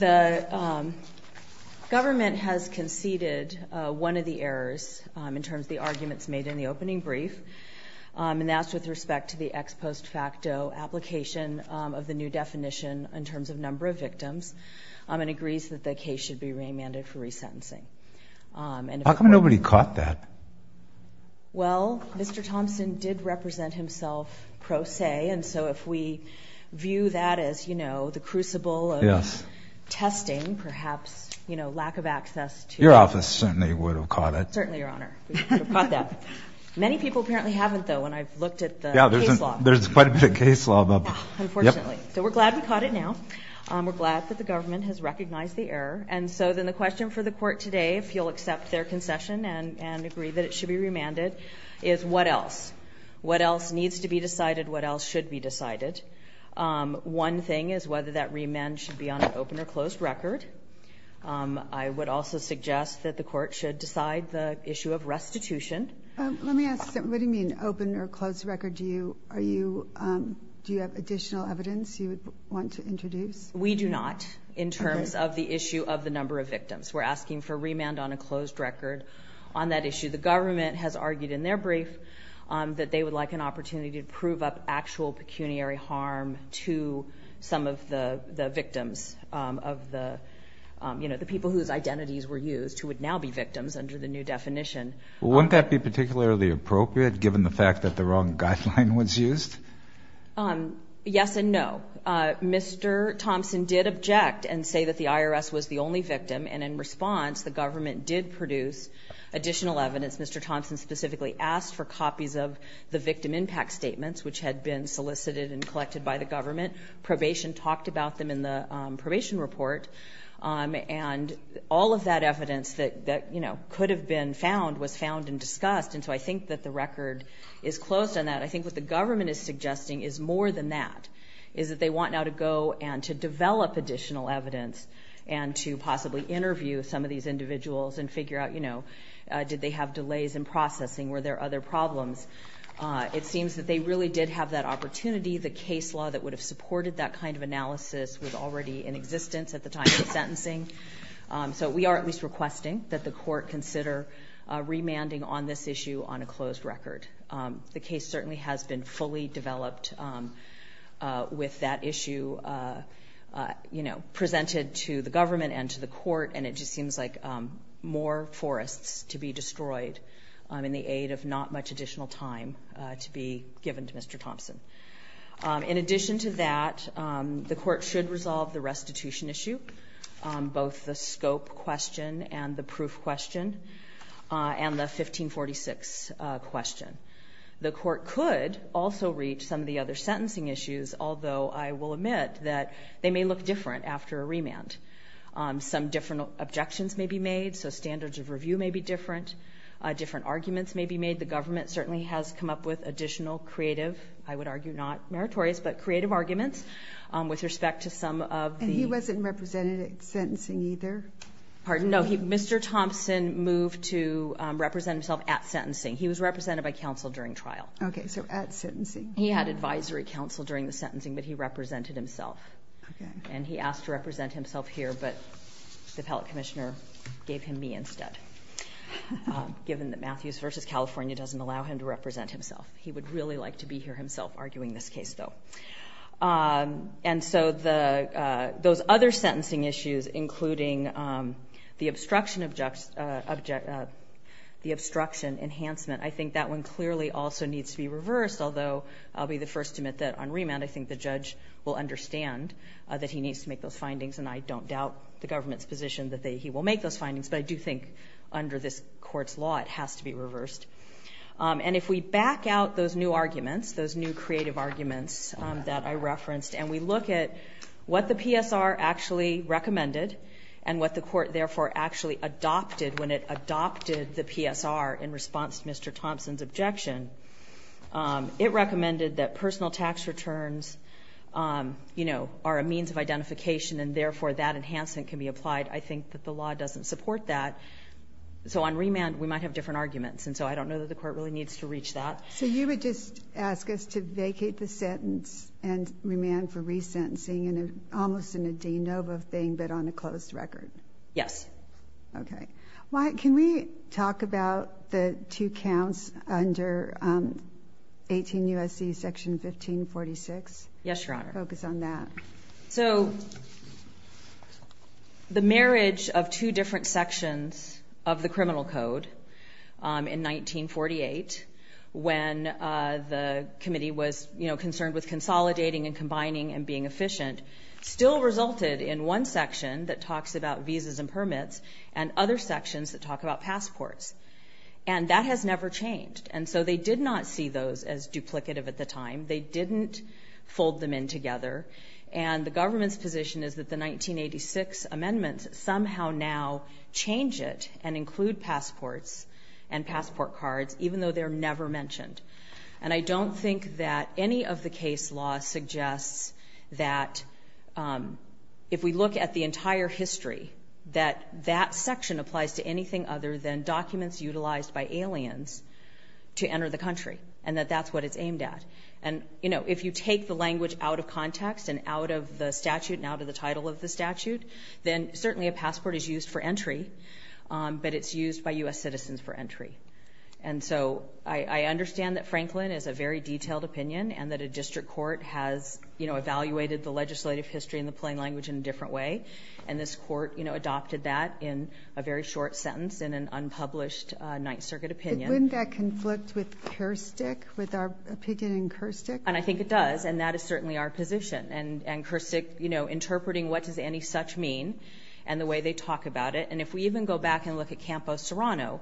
The government has conceded one of the errors in terms of the arguments made in the opening brief, and that's with respect to the ex post facto application of the new definition in terms of number of victims, and agrees that the case should be remanded for resentencing. How come nobody caught that? Well, Mr. Thompson did represent himself pro se, and so if we view that as, you know, the crucible of testing, perhaps, you know, lack of access to Your office certainly would have caught it. Certainly, Your Honor, we would have caught that. Many people apparently haven't, though, when I've looked at the case law. Yeah, there's quite a bit of case law. Unfortunately. So we're glad we caught it now. We're glad that the government has recognized the error. And so then the question for the court today, if you'll accept their concession and agree that it should be remanded, is what else? What else needs to be decided? What else should be decided? One thing is whether that remand should be on an open or closed record. I would also suggest that the court should decide the issue of restitution. Let me ask, what do you mean open or closed record? Do you have additional evidence you would want to introduce? We do not in terms of the issue of the number of victims. We're asking for remand on a closed record on that issue. The government has argued in their brief that they would like an opportunity to prove up actual pecuniary harm to some of the victims of the, you know, the people whose identities were used who would now be victims under the new definition. Wouldn't that be particularly appropriate given the fact that the wrong guideline was used? Yes and no. Mr. Thompson did object and say that the IRS was the only victim. And in response, the government did produce additional evidence. Mr. Thompson specifically asked for copies of the victim impact statements, which had been solicited and collected by the government. Probation talked about them in the probation report. And all of that evidence that, you know, could have been found was found and discussed. And so I think that the record is closed on that. I think what the government is suggesting is more than that, is that they want now to go and to develop additional evidence and to possibly interview some of these individuals and figure out, you know, did they have delays in processing? Were there other problems? It seems that they really did have that opportunity. The case law that would have supported that kind of analysis was already in existence at the time of the sentencing. So we are at least requesting that the court consider remanding on this issue on a closed record. The case certainly has been fully developed with that issue, you know, presented to the government and to the court. And it just seems like more forests to be destroyed in the aid of not much additional time to be given to Mr. Thompson. In addition to that, the court should resolve the restitution issue, both the scope question and the proof question, and the 1546 question. The court could also reach some of the other sentencing issues, although I will admit that they may look different after a remand. Some different objections may be made. So standards of review may be different. Different arguments may be made. The government certainly has come up with additional creative, I would argue not meritorious, but creative arguments with respect to some of the... And he wasn't represented at sentencing either? Pardon? No, Mr. Thompson moved to represent himself at sentencing. He was represented by counsel during trial. Okay, so at sentencing. He had advisory counsel during the sentencing, but he represented himself. Okay. And he asked to represent himself here, but the appellate commissioner gave him me instead, given that Matthews v. California doesn't allow him to represent himself. He would really like to be here himself arguing this case, though. And so those other sentencing issues, including the obstruction enhancement, I think that one clearly also needs to be reversed, although I'll be the first to admit that on remand I think the judge will understand that he needs to make those findings, and I don't doubt the government's position that he will make those findings, but I do think under this Court's law it has to be reversed. And if we back out those new arguments, those new creative arguments that I referenced, and we look at what the PSR actually recommended and what the Court therefore actually adopted when it adopted the PSR in response to Mr. Thompson's objection, it recommended that personal tax returns, you know, are a means of identification and therefore that enhancement can be applied. I think that the law doesn't support that. So on remand we might have different arguments, and so I don't know that the Court really needs to reach that. So you would just ask us to vacate the sentence and remand for resentencing, almost in a de novo thing but on a closed record? Yes. Okay. Can we talk about the two counts under 18 U.S.C. section 1546? Yes, Your Honor. Focus on that. So the marriage of two different sections of the criminal code in 1948 when the committee was, you know, concerned with consolidating and combining and being efficient still resulted in one section that talks about visas and permits and other sections that talk about passports. And that has never changed. And so they did not see those as duplicative at the time. They didn't fold them in together. And the government's position is that the 1986 amendments somehow now change it and include passports and passport cards even though they're never mentioned. And I don't think that any of the case law suggests that if we look at the entire history, that that section applies to anything other than documents utilized by aliens to enter the country and that that's what it's aimed at. And, you know, if you take the language out of context and out of the statute and out of the title of the statute, then certainly a passport is used for entry, but it's used by U.S. citizens for entry. And so I understand that Franklin is a very detailed opinion and that a district court has, you know, evaluated the legislative history in the plain language in a different way. And this court, you know, adopted that in a very short sentence in an unpublished Ninth Circuit opinion. But wouldn't that conflict with Kerstick, with our opinion in Kerstick? And I think it does, and that is certainly our position. And Kerstick, you know, interpreting what does any such mean and the way they talk about it. And if we even go back and look at Campo Serrano,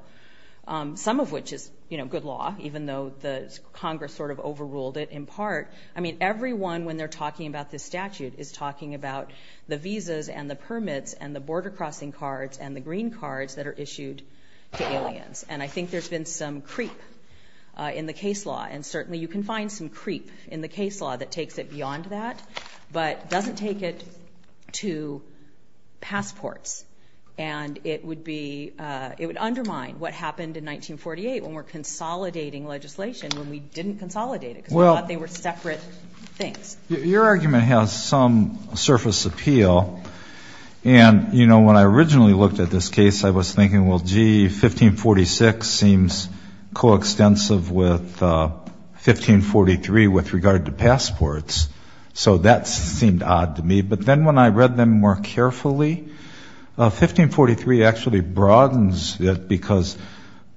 some of which is, you know, good law, even though Congress sort of overruled it in part. I mean, everyone when they're talking about this statute is talking about the visas and the permits and the border crossing cards and the green cards that are issued to aliens. And I think there's been some creep in the case law. And certainly you can find some creep in the case law that takes it beyond that, but doesn't take it to passports. And it would undermine what happened in 1948 when we're consolidating legislation when we didn't consolidate it because we thought they were separate things. Your argument has some surface appeal. And, you know, when I originally looked at this case, I was thinking, well, gee, 1546 seems coextensive with 1543 with regard to passports. So that seemed odd to me. But then when I read them more carefully, 1543 actually broadens it because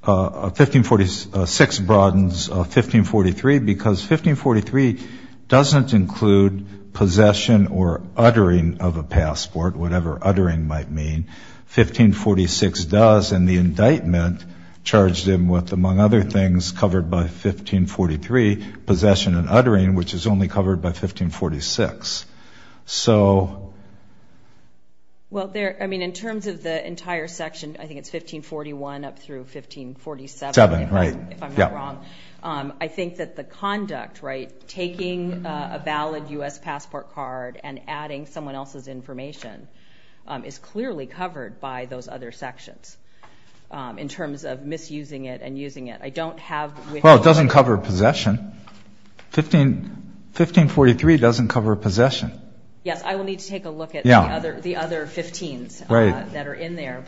1546 broadens 1543 because 1543 doesn't include possession or uttering of a passport, whatever uttering might mean. 1546 does, and the indictment charged him with, among other things, covered by 1543 possession and uttering, which is only covered by 1546. So... Well, I mean, in terms of the entire section, I think it's 1541 up through 1547, if I'm not wrong. I think that the conduct, right, taking a valid U.S. passport card and adding someone else's information is clearly covered by those other sections in terms of misusing it and using it. I don't have... Well, it doesn't cover possession. 1543 doesn't cover possession. Yes, I will need to take a look at the other 15s that are in there.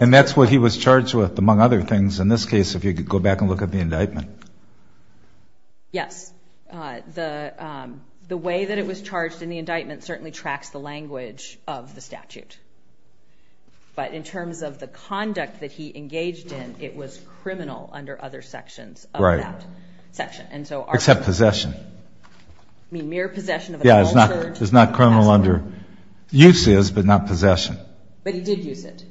And that's what he was charged with, among other things, in this case, if you could go back and look at the indictment. Yes. The way that it was charged in the indictment certainly tracks the language of the statute. But in terms of the conduct that he engaged in, it was criminal under other sections of that section. Right. Except possession. I mean, mere possession of a cultured... Yeah, it's not criminal under... Use is, but not possession. But he did use it.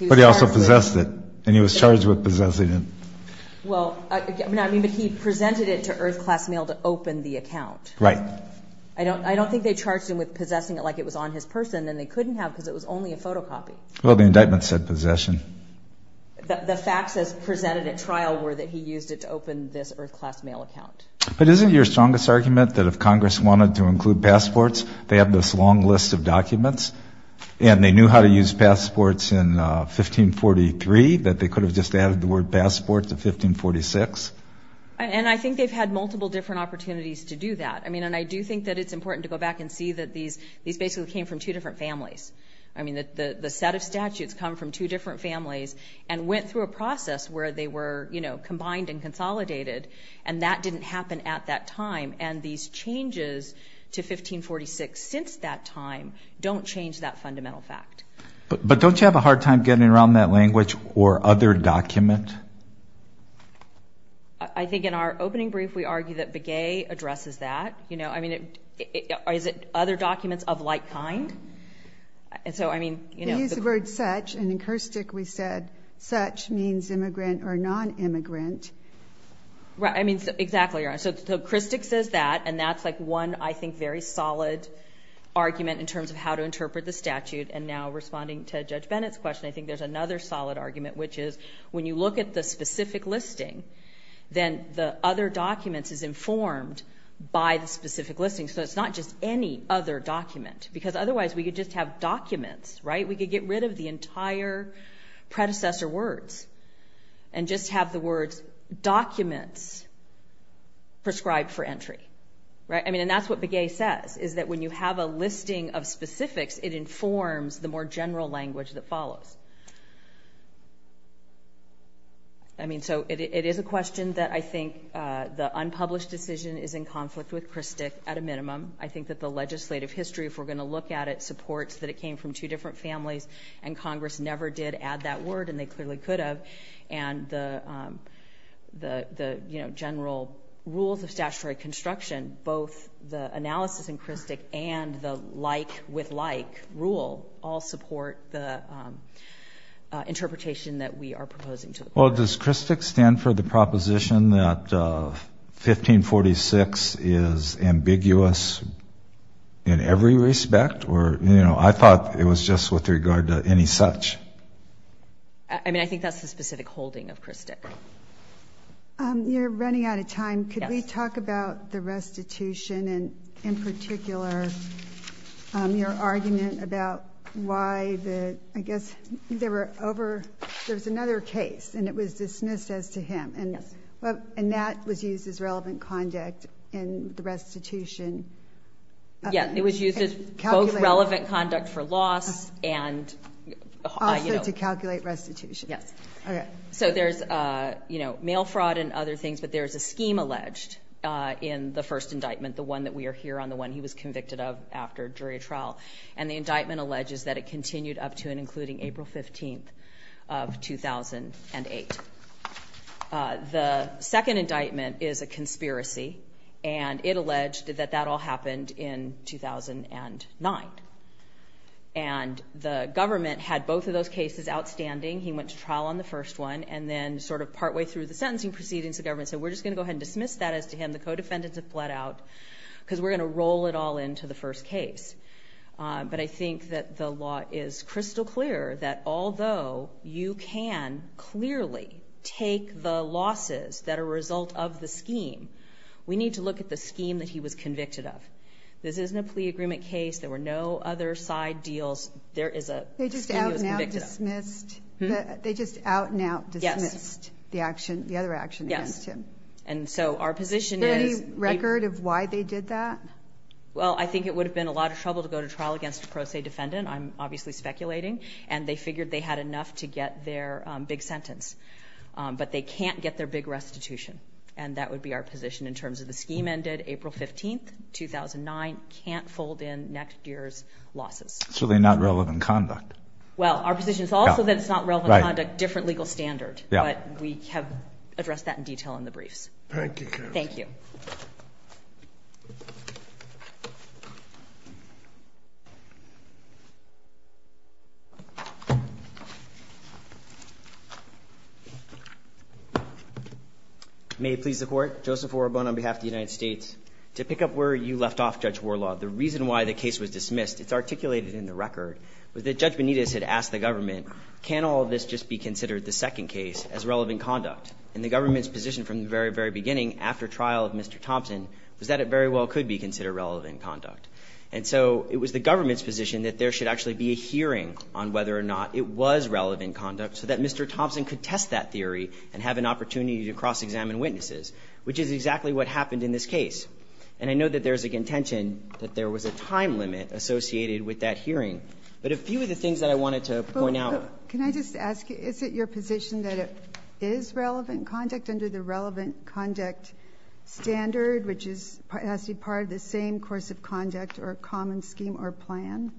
But he also possessed it, and he was charged with possessing it. Well, I mean, but he presented it to Earth Class Mail to open the account. Right. I don't think they charged him with possessing it like it was on his person, and they couldn't have because it was only a photocopy. Well, the indictment said possession. But isn't your strongest argument that if Congress wanted to include passports, they have this long list of documents, and they knew how to use passports in 1543, that they could have just added the word passport to 1546? And I think they've had multiple different opportunities to do that. I mean, and I do think that it's important to go back and see that these basically came from two different families. I mean, the set of statutes come from two different families and went through a process where they were combined and consolidated, and that didn't happen at that time. And these changes to 1546 since that time don't change that fundamental fact. But don't you have a hard time getting around that language or other document? I think in our opening brief we argue that Begay addresses that. I mean, is it other documents of like kind? He used the word such, and in Kerstick we said such means immigrant or nonimmigrant. Right. I mean, exactly. So Kerstick says that, and that's like one, I think, very solid argument in terms of how to interpret the statute. And now responding to Judge Bennett's question, I think there's another solid argument, which is when you look at the specific listing, then the other documents is informed by the specific listing. So it's not just any other document, because otherwise we could just have documents, right? We could get rid of the entire predecessor words and just have the words documents prescribed for entry. Right. I mean, and that's what Begay says, is that when you have a listing of specifics, it informs the more general language that follows. I mean, so it is a question that I think the unpublished decision is in conflict with Kerstick at a minimum. I think that the legislative history, if we're going to look at it, supports that it came from two different families, and Congress never did add that word, and they clearly could have. And the general rules of statutory construction, both the analysis in Kerstick and the like with like rule all support the interpretation that we are proposing to the court. Well, does Kerstick stand for the proposition that 1546 is ambiguous, in every respect, or, you know, I thought it was just with regard to any such. I mean, I think that's the specific holding of Kerstick. You're running out of time. Could we talk about the restitution and, in particular, your argument about why the, I guess, there were over, there was another case, and it was dismissed as to him. And that was used as relevant conduct in the restitution. Yeah, it was used as both relevant conduct for loss and... Also to calculate restitution. So there's, you know, mail fraud and other things, but there's a scheme alleged in the first indictment, the one that we are here on, the one he was convicted of after jury trial, and the indictment alleges that it continued up to and including April 15th of 2008. The second indictment is a conspiracy, and it alleged that that all happened in 2009. And the government had both of those cases outstanding. He went to trial on the first one, and then sort of partway through the sentencing proceedings, the government said, we're just going to go ahead and dismiss that as to him. The co-defendants have bled out because we're going to roll it all into the first case. But I think that the law is crystal clear that although you can clearly take the losses that are a result of the scheme, we need to look at the scheme that he was convicted of. This isn't a plea agreement case. There were no other side deals. There is a scheme he was convicted of. They just out and out dismissed the other action against him. Yes. And so our position is... Is there any record of why they did that? Well, I think it would have been a lot of trouble to go to trial against a pro se defendant. I'm obviously speculating. And they figured they had enough to get their big sentence. But they can't get their big restitution. And that would be our position in terms of the scheme ended April 15th, 2009. Can't fold in next year's losses. So they're not relevant conduct. Well, our position is also that it's not relevant conduct, different legal standard. But we have addressed that in detail in the briefs. Thank you, Counsel. Thank you. May it please the Court. Joseph Orobon on behalf of the United States. To pick up where you left off, Judge Warlaw, the reason why the case was dismissed, it's articulated in the record, was that Judge Benitez had asked the government, can all of this just be considered the second case as relevant conduct? And the government's position from the very, very beginning after trial of Mr. Thompson was that it very well could be considered relevant conduct. And so it was the government's position that there should actually be a hearing on whether or not it was relevant conduct so that Mr. Thompson could test that theory and have an opportunity to cross-examine witnesses, which is exactly what happened in this case. And I know that there's a contention that there was a time limit associated with that hearing. But a few of the things that I wanted to point out. Can I just ask, is it your position that it is relevant conduct under the relevant conduct standard, which has to be part of the same course of conduct or common scheme or plan?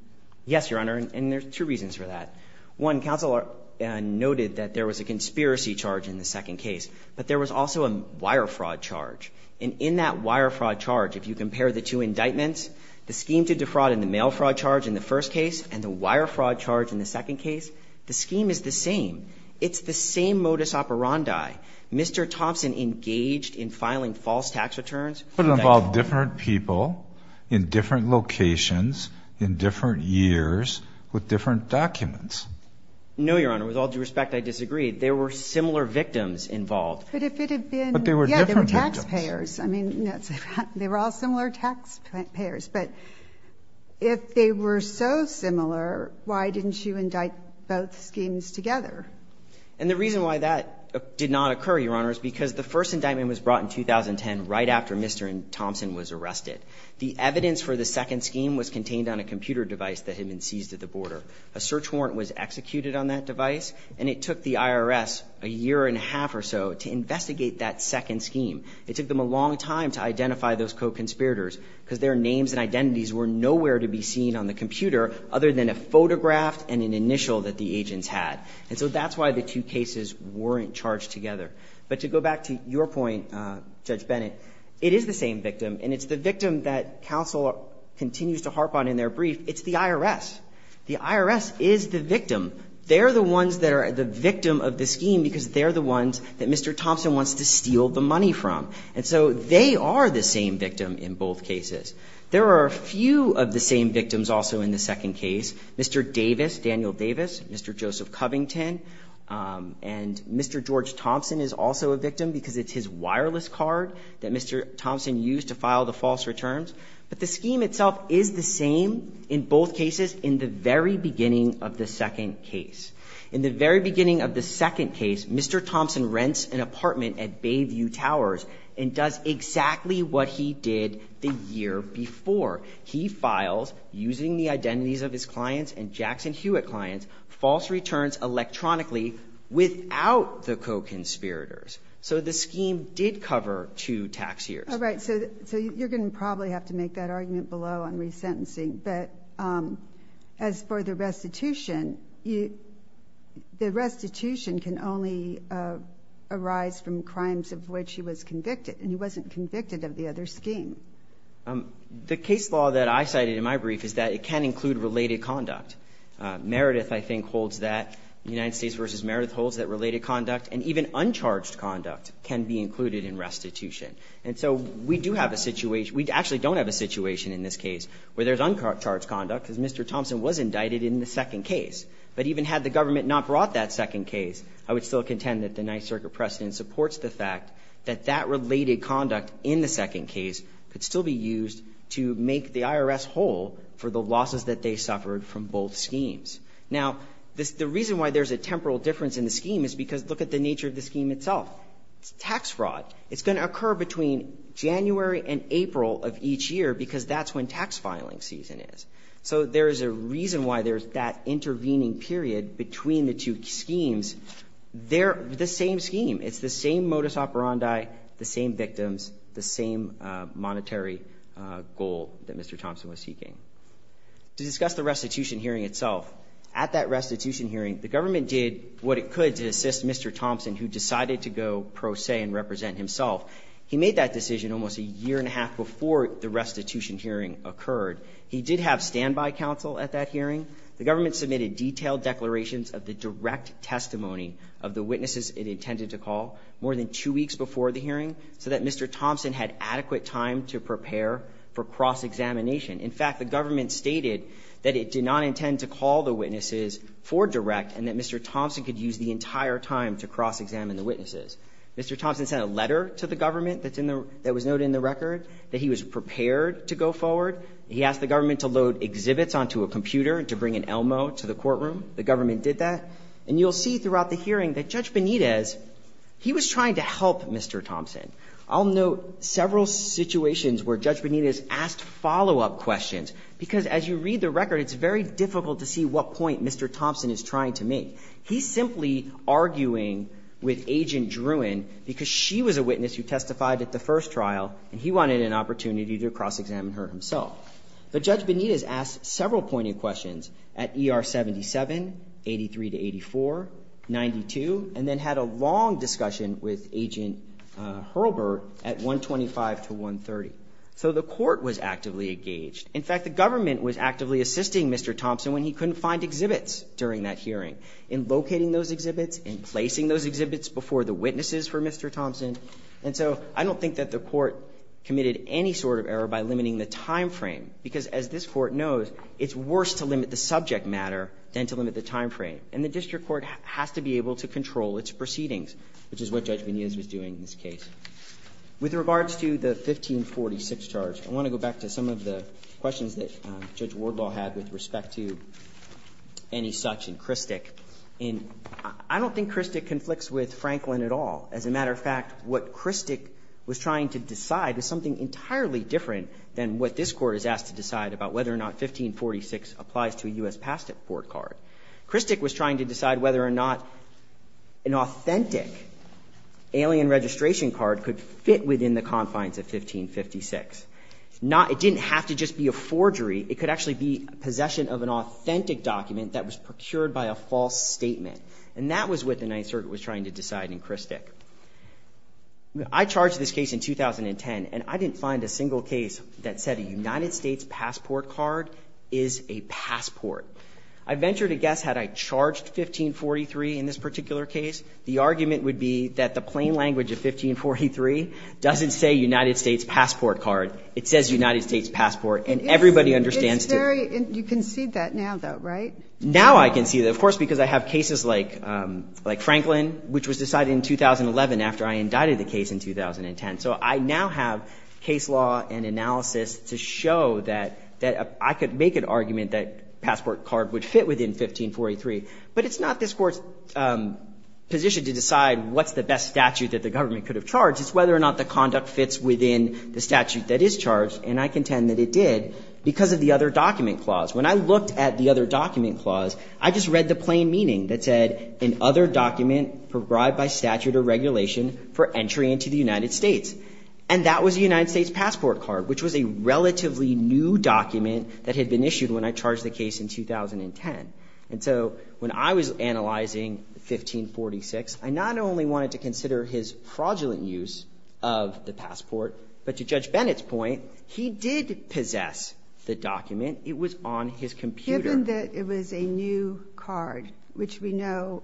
Yes, Your Honor. And there's two reasons for that. One, Counsel noted that there was a conspiracy charge in the second case. But there was also a wire fraud charge. And in that wire fraud charge, if you compare the two indictments, the scheme to defraud and the mail fraud charge in the first case and the wire fraud charge in the second case, the scheme is the same. It's the same modus operandi. Mr. Thompson engaged in filing false tax returns. But it involved different people in different locations in different years with different documents. No, Your Honor. With all due respect, I disagree. There were similar victims involved. But if it had been. But there were different victims. Yeah, there were taxpayers. I mean, they were all similar taxpayers. But if they were so similar, why didn't you indict both schemes together? And the reason why that did not occur, Your Honor, is because the first indictment was brought in 2010 right after Mr. Thompson was arrested. The evidence for the second scheme was contained on a computer device that had been seized at the border. A search warrant was executed on that device. And it took the IRS a year and a half or so to investigate that second scheme. It took them a long time to identify those co-conspirators because their names and identities were nowhere to be seen on the computer other than a photograph and an initial that the agents had. And so that's why the two cases weren't charged together. But to go back to your point, Judge Bennett, it is the same victim. And it's the victim that counsel continues to harp on in their brief. It's the IRS. The IRS is the victim. They're the ones that are the victim of the scheme because they're the ones that And so they are the same victim in both cases. There are a few of the same victims also in the second case. Mr. Davis, Daniel Davis, Mr. Joseph Covington, and Mr. George Thompson is also a victim because it's his wireless card that Mr. Thompson used to file the false returns. But the scheme itself is the same in both cases in the very beginning of the second case. In the very beginning of the second case, Mr. Thompson rents an apartment at Bayview Towers and does exactly what he did the year before. He files, using the identities of his clients and Jackson Hewitt clients, false returns electronically without the co-conspirators. So the scheme did cover two tax years. All right. So you're going to probably have to make that argument below on resentencing. But as for the restitution, the restitution can only arise from crimes of which he was convicted, and he wasn't convicted of the other scheme. The case law that I cited in my brief is that it can include related conduct. Meredith, I think, holds that. United States v. Meredith holds that related conduct and even uncharged conduct can be included in restitution. And so we do have a situation. We actually don't have a situation in this case where there's uncharged conduct because Mr. Thompson was indicted in the second case. But even had the government not brought that second case, I would still contend that the Ninth Circuit precedent supports the fact that that related conduct in the second case could still be used to make the IRS whole for the losses that they suffered from both schemes. Now, the reason why there's a temporal difference in the scheme is because look at the nature of the scheme itself. It's tax fraud. It's going to occur between January and April of each year because that's when tax filing season is. So there is a reason why there's that intervening period between the two schemes. They're the same scheme. It's the same modus operandi, the same victims, the same monetary goal that Mr. Thompson was seeking. To discuss the restitution hearing itself, at that restitution hearing, the government did what it could to assist Mr. Thompson himself. He made that decision almost a year and a half before the restitution hearing occurred. He did have standby counsel at that hearing. The government submitted detailed declarations of the direct testimony of the witnesses it intended to call more than two weeks before the hearing so that Mr. Thompson had adequate time to prepare for cross-examination. In fact, the government stated that it did not intend to call the witnesses for direct and that Mr. Thompson could use the entire time to cross-examine the witnesses. Mr. Thompson sent a letter to the government that was noted in the record that he was prepared to go forward. He asked the government to load exhibits onto a computer to bring an Elmo to the courtroom. The government did that. And you'll see throughout the hearing that Judge Benitez, he was trying to help Mr. Thompson. I'll note several situations where Judge Benitez asked follow-up questions because as you read the record, it's very difficult to see what point Mr. Thompson is trying to make. He's simply arguing with Agent Druin because she was a witness who testified at the first trial and he wanted an opportunity to cross-examine her himself. But Judge Benitez asked several pointed questions at ER 77, 83 to 84, 92, and then had a long discussion with Agent Hurlburt at 125 to 130. So the court was actively engaged. In fact, the government was actively assisting Mr. Thompson when he couldn't find exhibits during that hearing. In locating those exhibits, in placing those exhibits before the witnesses for Mr. Thompson. And so I don't think that the court committed any sort of error by limiting the time frame, because as this Court knows, it's worse to limit the subject matter than to limit the time frame. And the district court has to be able to control its proceedings, which is what Judge Benitez was doing in this case. With regards to the 1546 charge, I want to go back to some of the questions that Judge Wardlaw had with respect to any such in Christick. And I don't think Christick conflicts with Franklin at all. As a matter of fact, what Christick was trying to decide is something entirely different than what this Court is asked to decide about whether or not 1546 applies to a U.S. passport card. Christick was trying to decide whether or not an authentic alien registration card could fit within the confines of 1556. It didn't have to just be a forgery. It could actually be possession of an authentic document that was procured by a false statement. And that was what the Ninth Circuit was trying to decide in Christick. I charged this case in 2010, and I didn't find a single case that said a United States passport card is a passport. I venture to guess had I charged 1543 in this particular case, the argument would be that the plain language of 1543 doesn't say United States passport card. It says United States passport, and everybody understands it. You can see that now, though, right? Now I can see that, of course, because I have cases like Franklin, which was decided in 2011 after I indicted the case in 2010. So I now have case law and analysis to show that I could make an argument that passport card would fit within 1543. But it's not this Court's position to decide what's the best statute that the government could have charged. It's whether or not the conduct fits within the statute that is charged. And I contend that it did because of the other document clause. When I looked at the other document clause, I just read the plain meaning that said, an other document provided by statute or regulation for entry into the United States. And that was a United States passport card, which was a relatively new document that had been issued when I charged the case in 2010. And so when I was analyzing 1546, I not only wanted to consider his fraudulent use of the passport, but to Judge Bennett's point, he did possess the document. It was on his computer. Given that it was a new card, which we know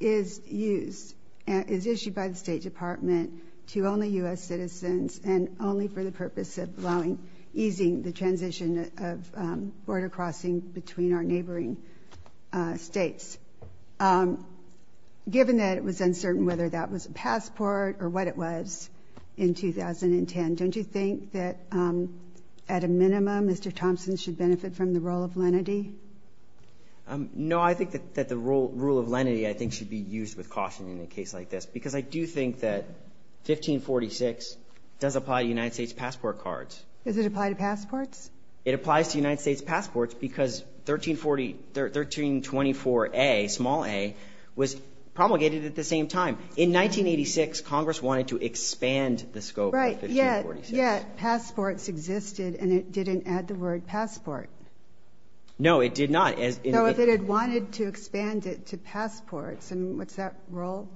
is used, is issued by the State Department to only U.S. citizens and only for the purpose of allowing, easing the transition of border crossing between our neighboring States, given that it was uncertain whether that was a passport or what it was in 2010. Don't you think that at a minimum, Mr. Thompson should benefit from the rule of lenity? No. I think that the rule of lenity, I think, should be used with caution in a case like this because I do think that 1546 does apply to United States passport cards. Does it apply to passports? It applies to United States passports because 1324A, small a, was promulgated at the same time. In 1986, Congress wanted to expand the scope of 1546. Right. Yet passports existed and it didn't add the word passport. No, it did not. Though if it had wanted to expand it to passports, and what's that rule?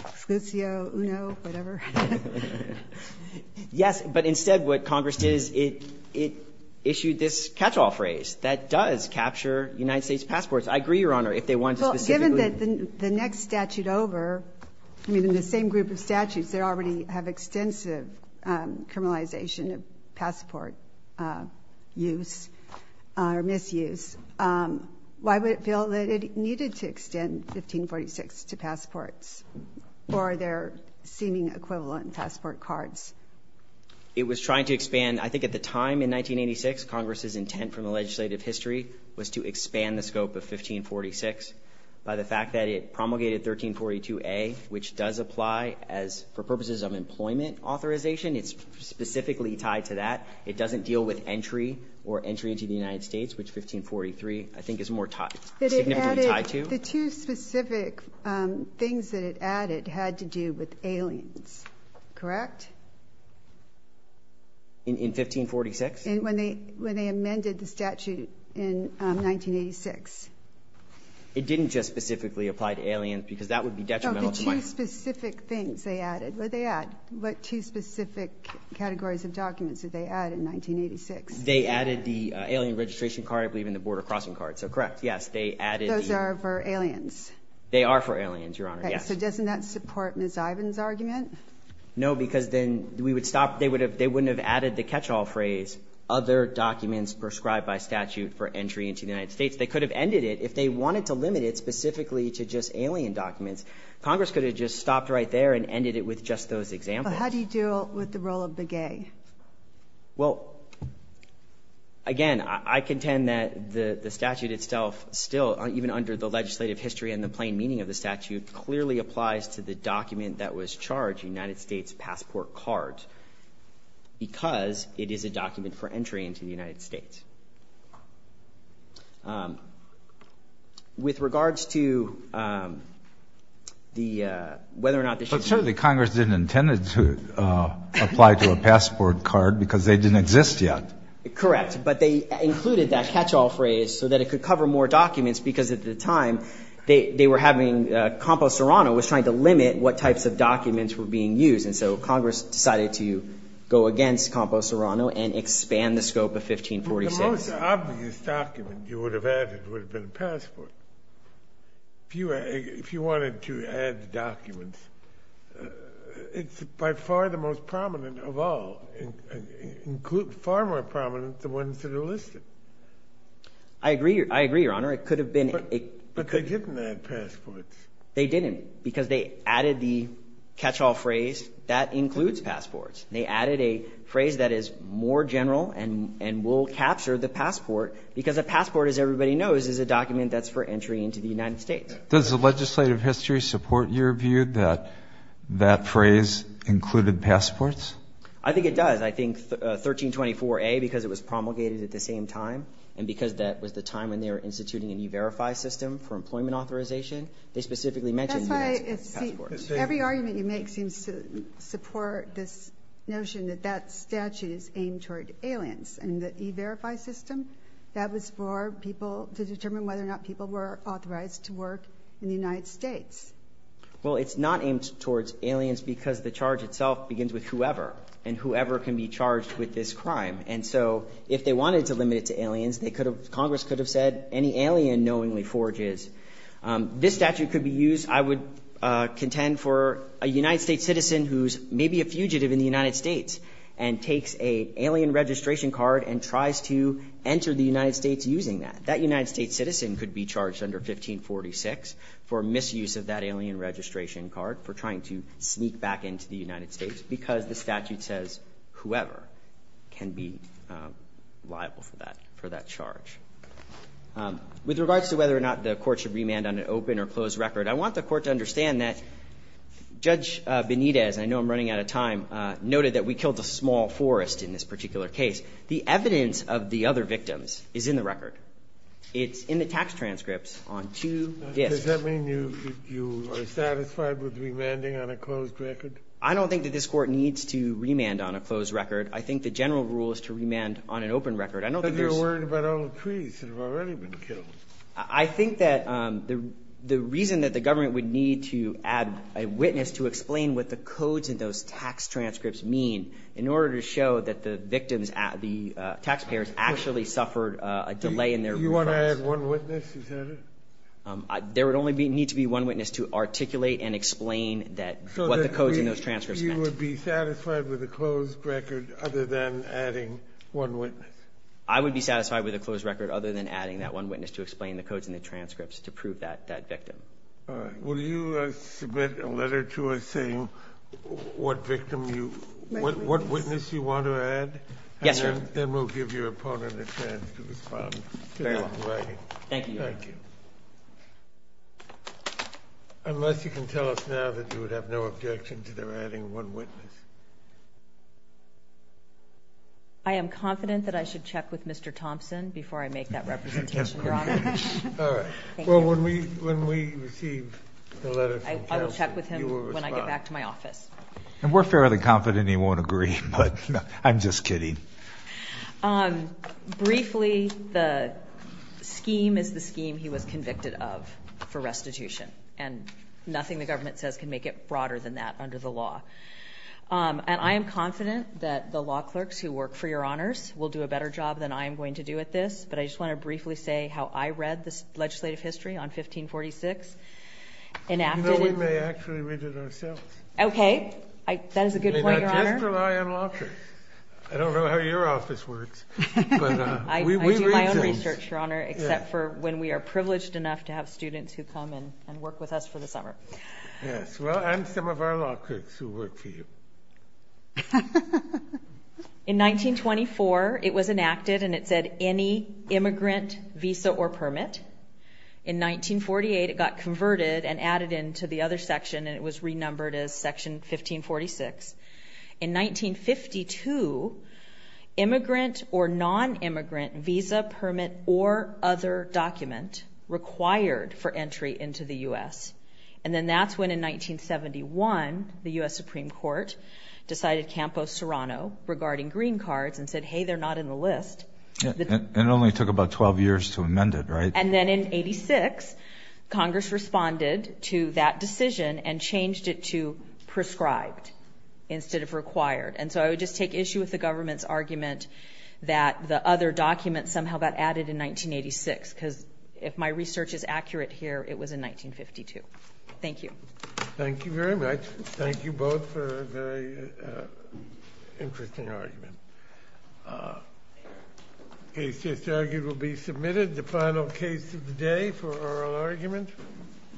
Exclusio uno, whatever. Yes. But instead what Congress did is it issued this catch-all phrase that does capture United States passports. I agree, Your Honor, if they wanted to specifically. Why would it feel that the next statute over, I mean, in the same group of statutes that already have extensive criminalization of passport use or misuse, why would it feel that it needed to extend 1546 to passports or their seeming equivalent passport cards? It was trying to expand. I think at the time in 1986, Congress's intent from the legislative history was to the fact that it promulgated 1342A, which does apply for purposes of employment authorization. It's specifically tied to that. It doesn't deal with entry or entry into the United States, which 1543, I think, is more significantly tied to. The two specific things that it added had to do with aliens, correct? In 1546? When they amended the statute in 1986. It didn't just specifically apply to aliens, because that would be detrimental to my ---- The two specific things they added. What did they add? What two specific categories of documents did they add in 1986? They added the alien registration card, I believe, and the border crossing card. So, correct, yes. They added the ---- Those are for aliens. They are for aliens, Your Honor, yes. Okay. So doesn't that support Ms. Ivins' argument? No, because then we would stop. They wouldn't have added the catch-all phrase, other documents prescribed by statute for entry into the United States. They could have ended it if they wanted to limit it specifically to just alien documents. Congress could have just stopped right there and ended it with just those examples. But how do you deal with the role of the gay? Well, again, I contend that the statute itself still, even under the legislative history and the plain meaning of the statute, clearly applies to the document that was charged, the United States passport card, because it is a document for entry into the United States. With regards to the ---- But certainly Congress didn't intend to apply to a passport card because they didn't exist yet. Correct. But they included that catch-all phrase so that it could cover more documents, because at the time they were having ---- Campo Serrano was trying to limit what types of documents were being used. And so Congress decided to go against Campo Serrano and expand the scope of 1546. The most obvious document you would have added would have been a passport. If you wanted to add documents, it's by far the most prominent of all, far more prominent than the ones that are listed. I agree, Your Honor. It could have been ---- But they didn't add passports. They didn't, because they added the catch-all phrase, that includes passports. They added a phrase that is more general and will capture the passport, because a passport, as everybody knows, is a document that's for entry into the United States. Does the legislative history support your view that that phrase included passports? I think it does. I think 1324A, because it was promulgated at the same time and because that was the time when they were instituting a new verify system for employment authorization, they specifically mentioned passports. That's why every argument you make seems to support this notion that that statute is aimed toward aliens. In the e-verify system, that was for people to determine whether or not people were authorized to work in the United States. Well, it's not aimed towards aliens because the charge itself begins with whoever, and whoever can be charged with this crime. And so if they wanted to limit it to aliens, Congress could have said any alien knowingly forges. This statute could be used, I would contend, for a United States citizen who's maybe a fugitive in the United States and takes an alien registration card and tries to enter the United States using that. That United States citizen could be charged under 1546 for misuse of that alien registration card, for trying to sneak back into the United States, because the statute says whoever can be liable for that charge. With regards to whether or not the court should remand on an open or closed record, I want the court to understand that Judge Benitez, and I know I'm running out of time, noted that we killed a small forest in this particular case. The evidence of the other victims is in the record. It's in the tax transcripts on two disks. Does that mean you are satisfied with remanding on a closed record? I don't think that this court needs to remand on a closed record. I think the general rule is to remand on an open record. But you're worried about all the trees that have already been killed. I think that the reason that the government would need to add a witness to explain what the codes in those tax transcripts mean, in order to show that the victims, the taxpayers, actually suffered a delay in their refunds. Do you want to add one witness, is that it? There would only need to be one witness to articulate and explain what the codes in those transcripts meant. So you would be satisfied with a closed record other than adding one witness? I would be satisfied with a closed record other than adding that one witness to explain the codes in the transcripts to prove that victim. All right. Will you submit a letter to us saying what victim you – what witness you want to add? Yes, sir. And then we'll give your opponent a chance to respond. Very well. Thank you, Your Honor. Thank you. Unless you can tell us now that you would have no objection to their adding one witness. I am confident that I should check with Mr. Thompson before I make that representation, Your Honor. All right. Well, when we receive the letter from Thompson, you will respond. I will check with him when I get back to my office. And we're fairly confident he won't agree, but I'm just kidding. Briefly, the scheme is the scheme he was convicted of for restitution, and nothing the government says can make it broader than that under the law. And I am confident that the law clerks who work for Your Honors will do a better job than I am going to do at this, but I just want to briefly say how I read the legislative history on 1546. You know, we may actually read it ourselves. Okay. That is a good point, Your Honor. Just rely on law clerks. I don't know how your office works, but we read things. I do my own research, Your Honor, except for when we are privileged enough to have students who come and work with us for the summer. Yes. Well, and some of our law clerks who work for you. In 1924, it was enacted, and it said any immigrant visa or permit. In 1948, it got converted and added into the other section, and it was renumbered as Section 1546. In 1952, immigrant or nonimmigrant visa, permit, or other document required for entry into the U.S., and then that's when, in 1971, the U.S. Supreme Court decided Campo Serrano regarding green cards and said, hey, they're not in the list. And it only took about 12 years to amend it, right? And then in 86, Congress responded to that decision and changed it to prescribed instead of required. And so I would just take issue with the government's argument that the other document somehow got added in 1986, because if my research is accurate here, it was in 1952. Thank you. Thank you very much. Thank you both for a very interesting argument. The case just argued will be submitted. The final case of the day for oral argument.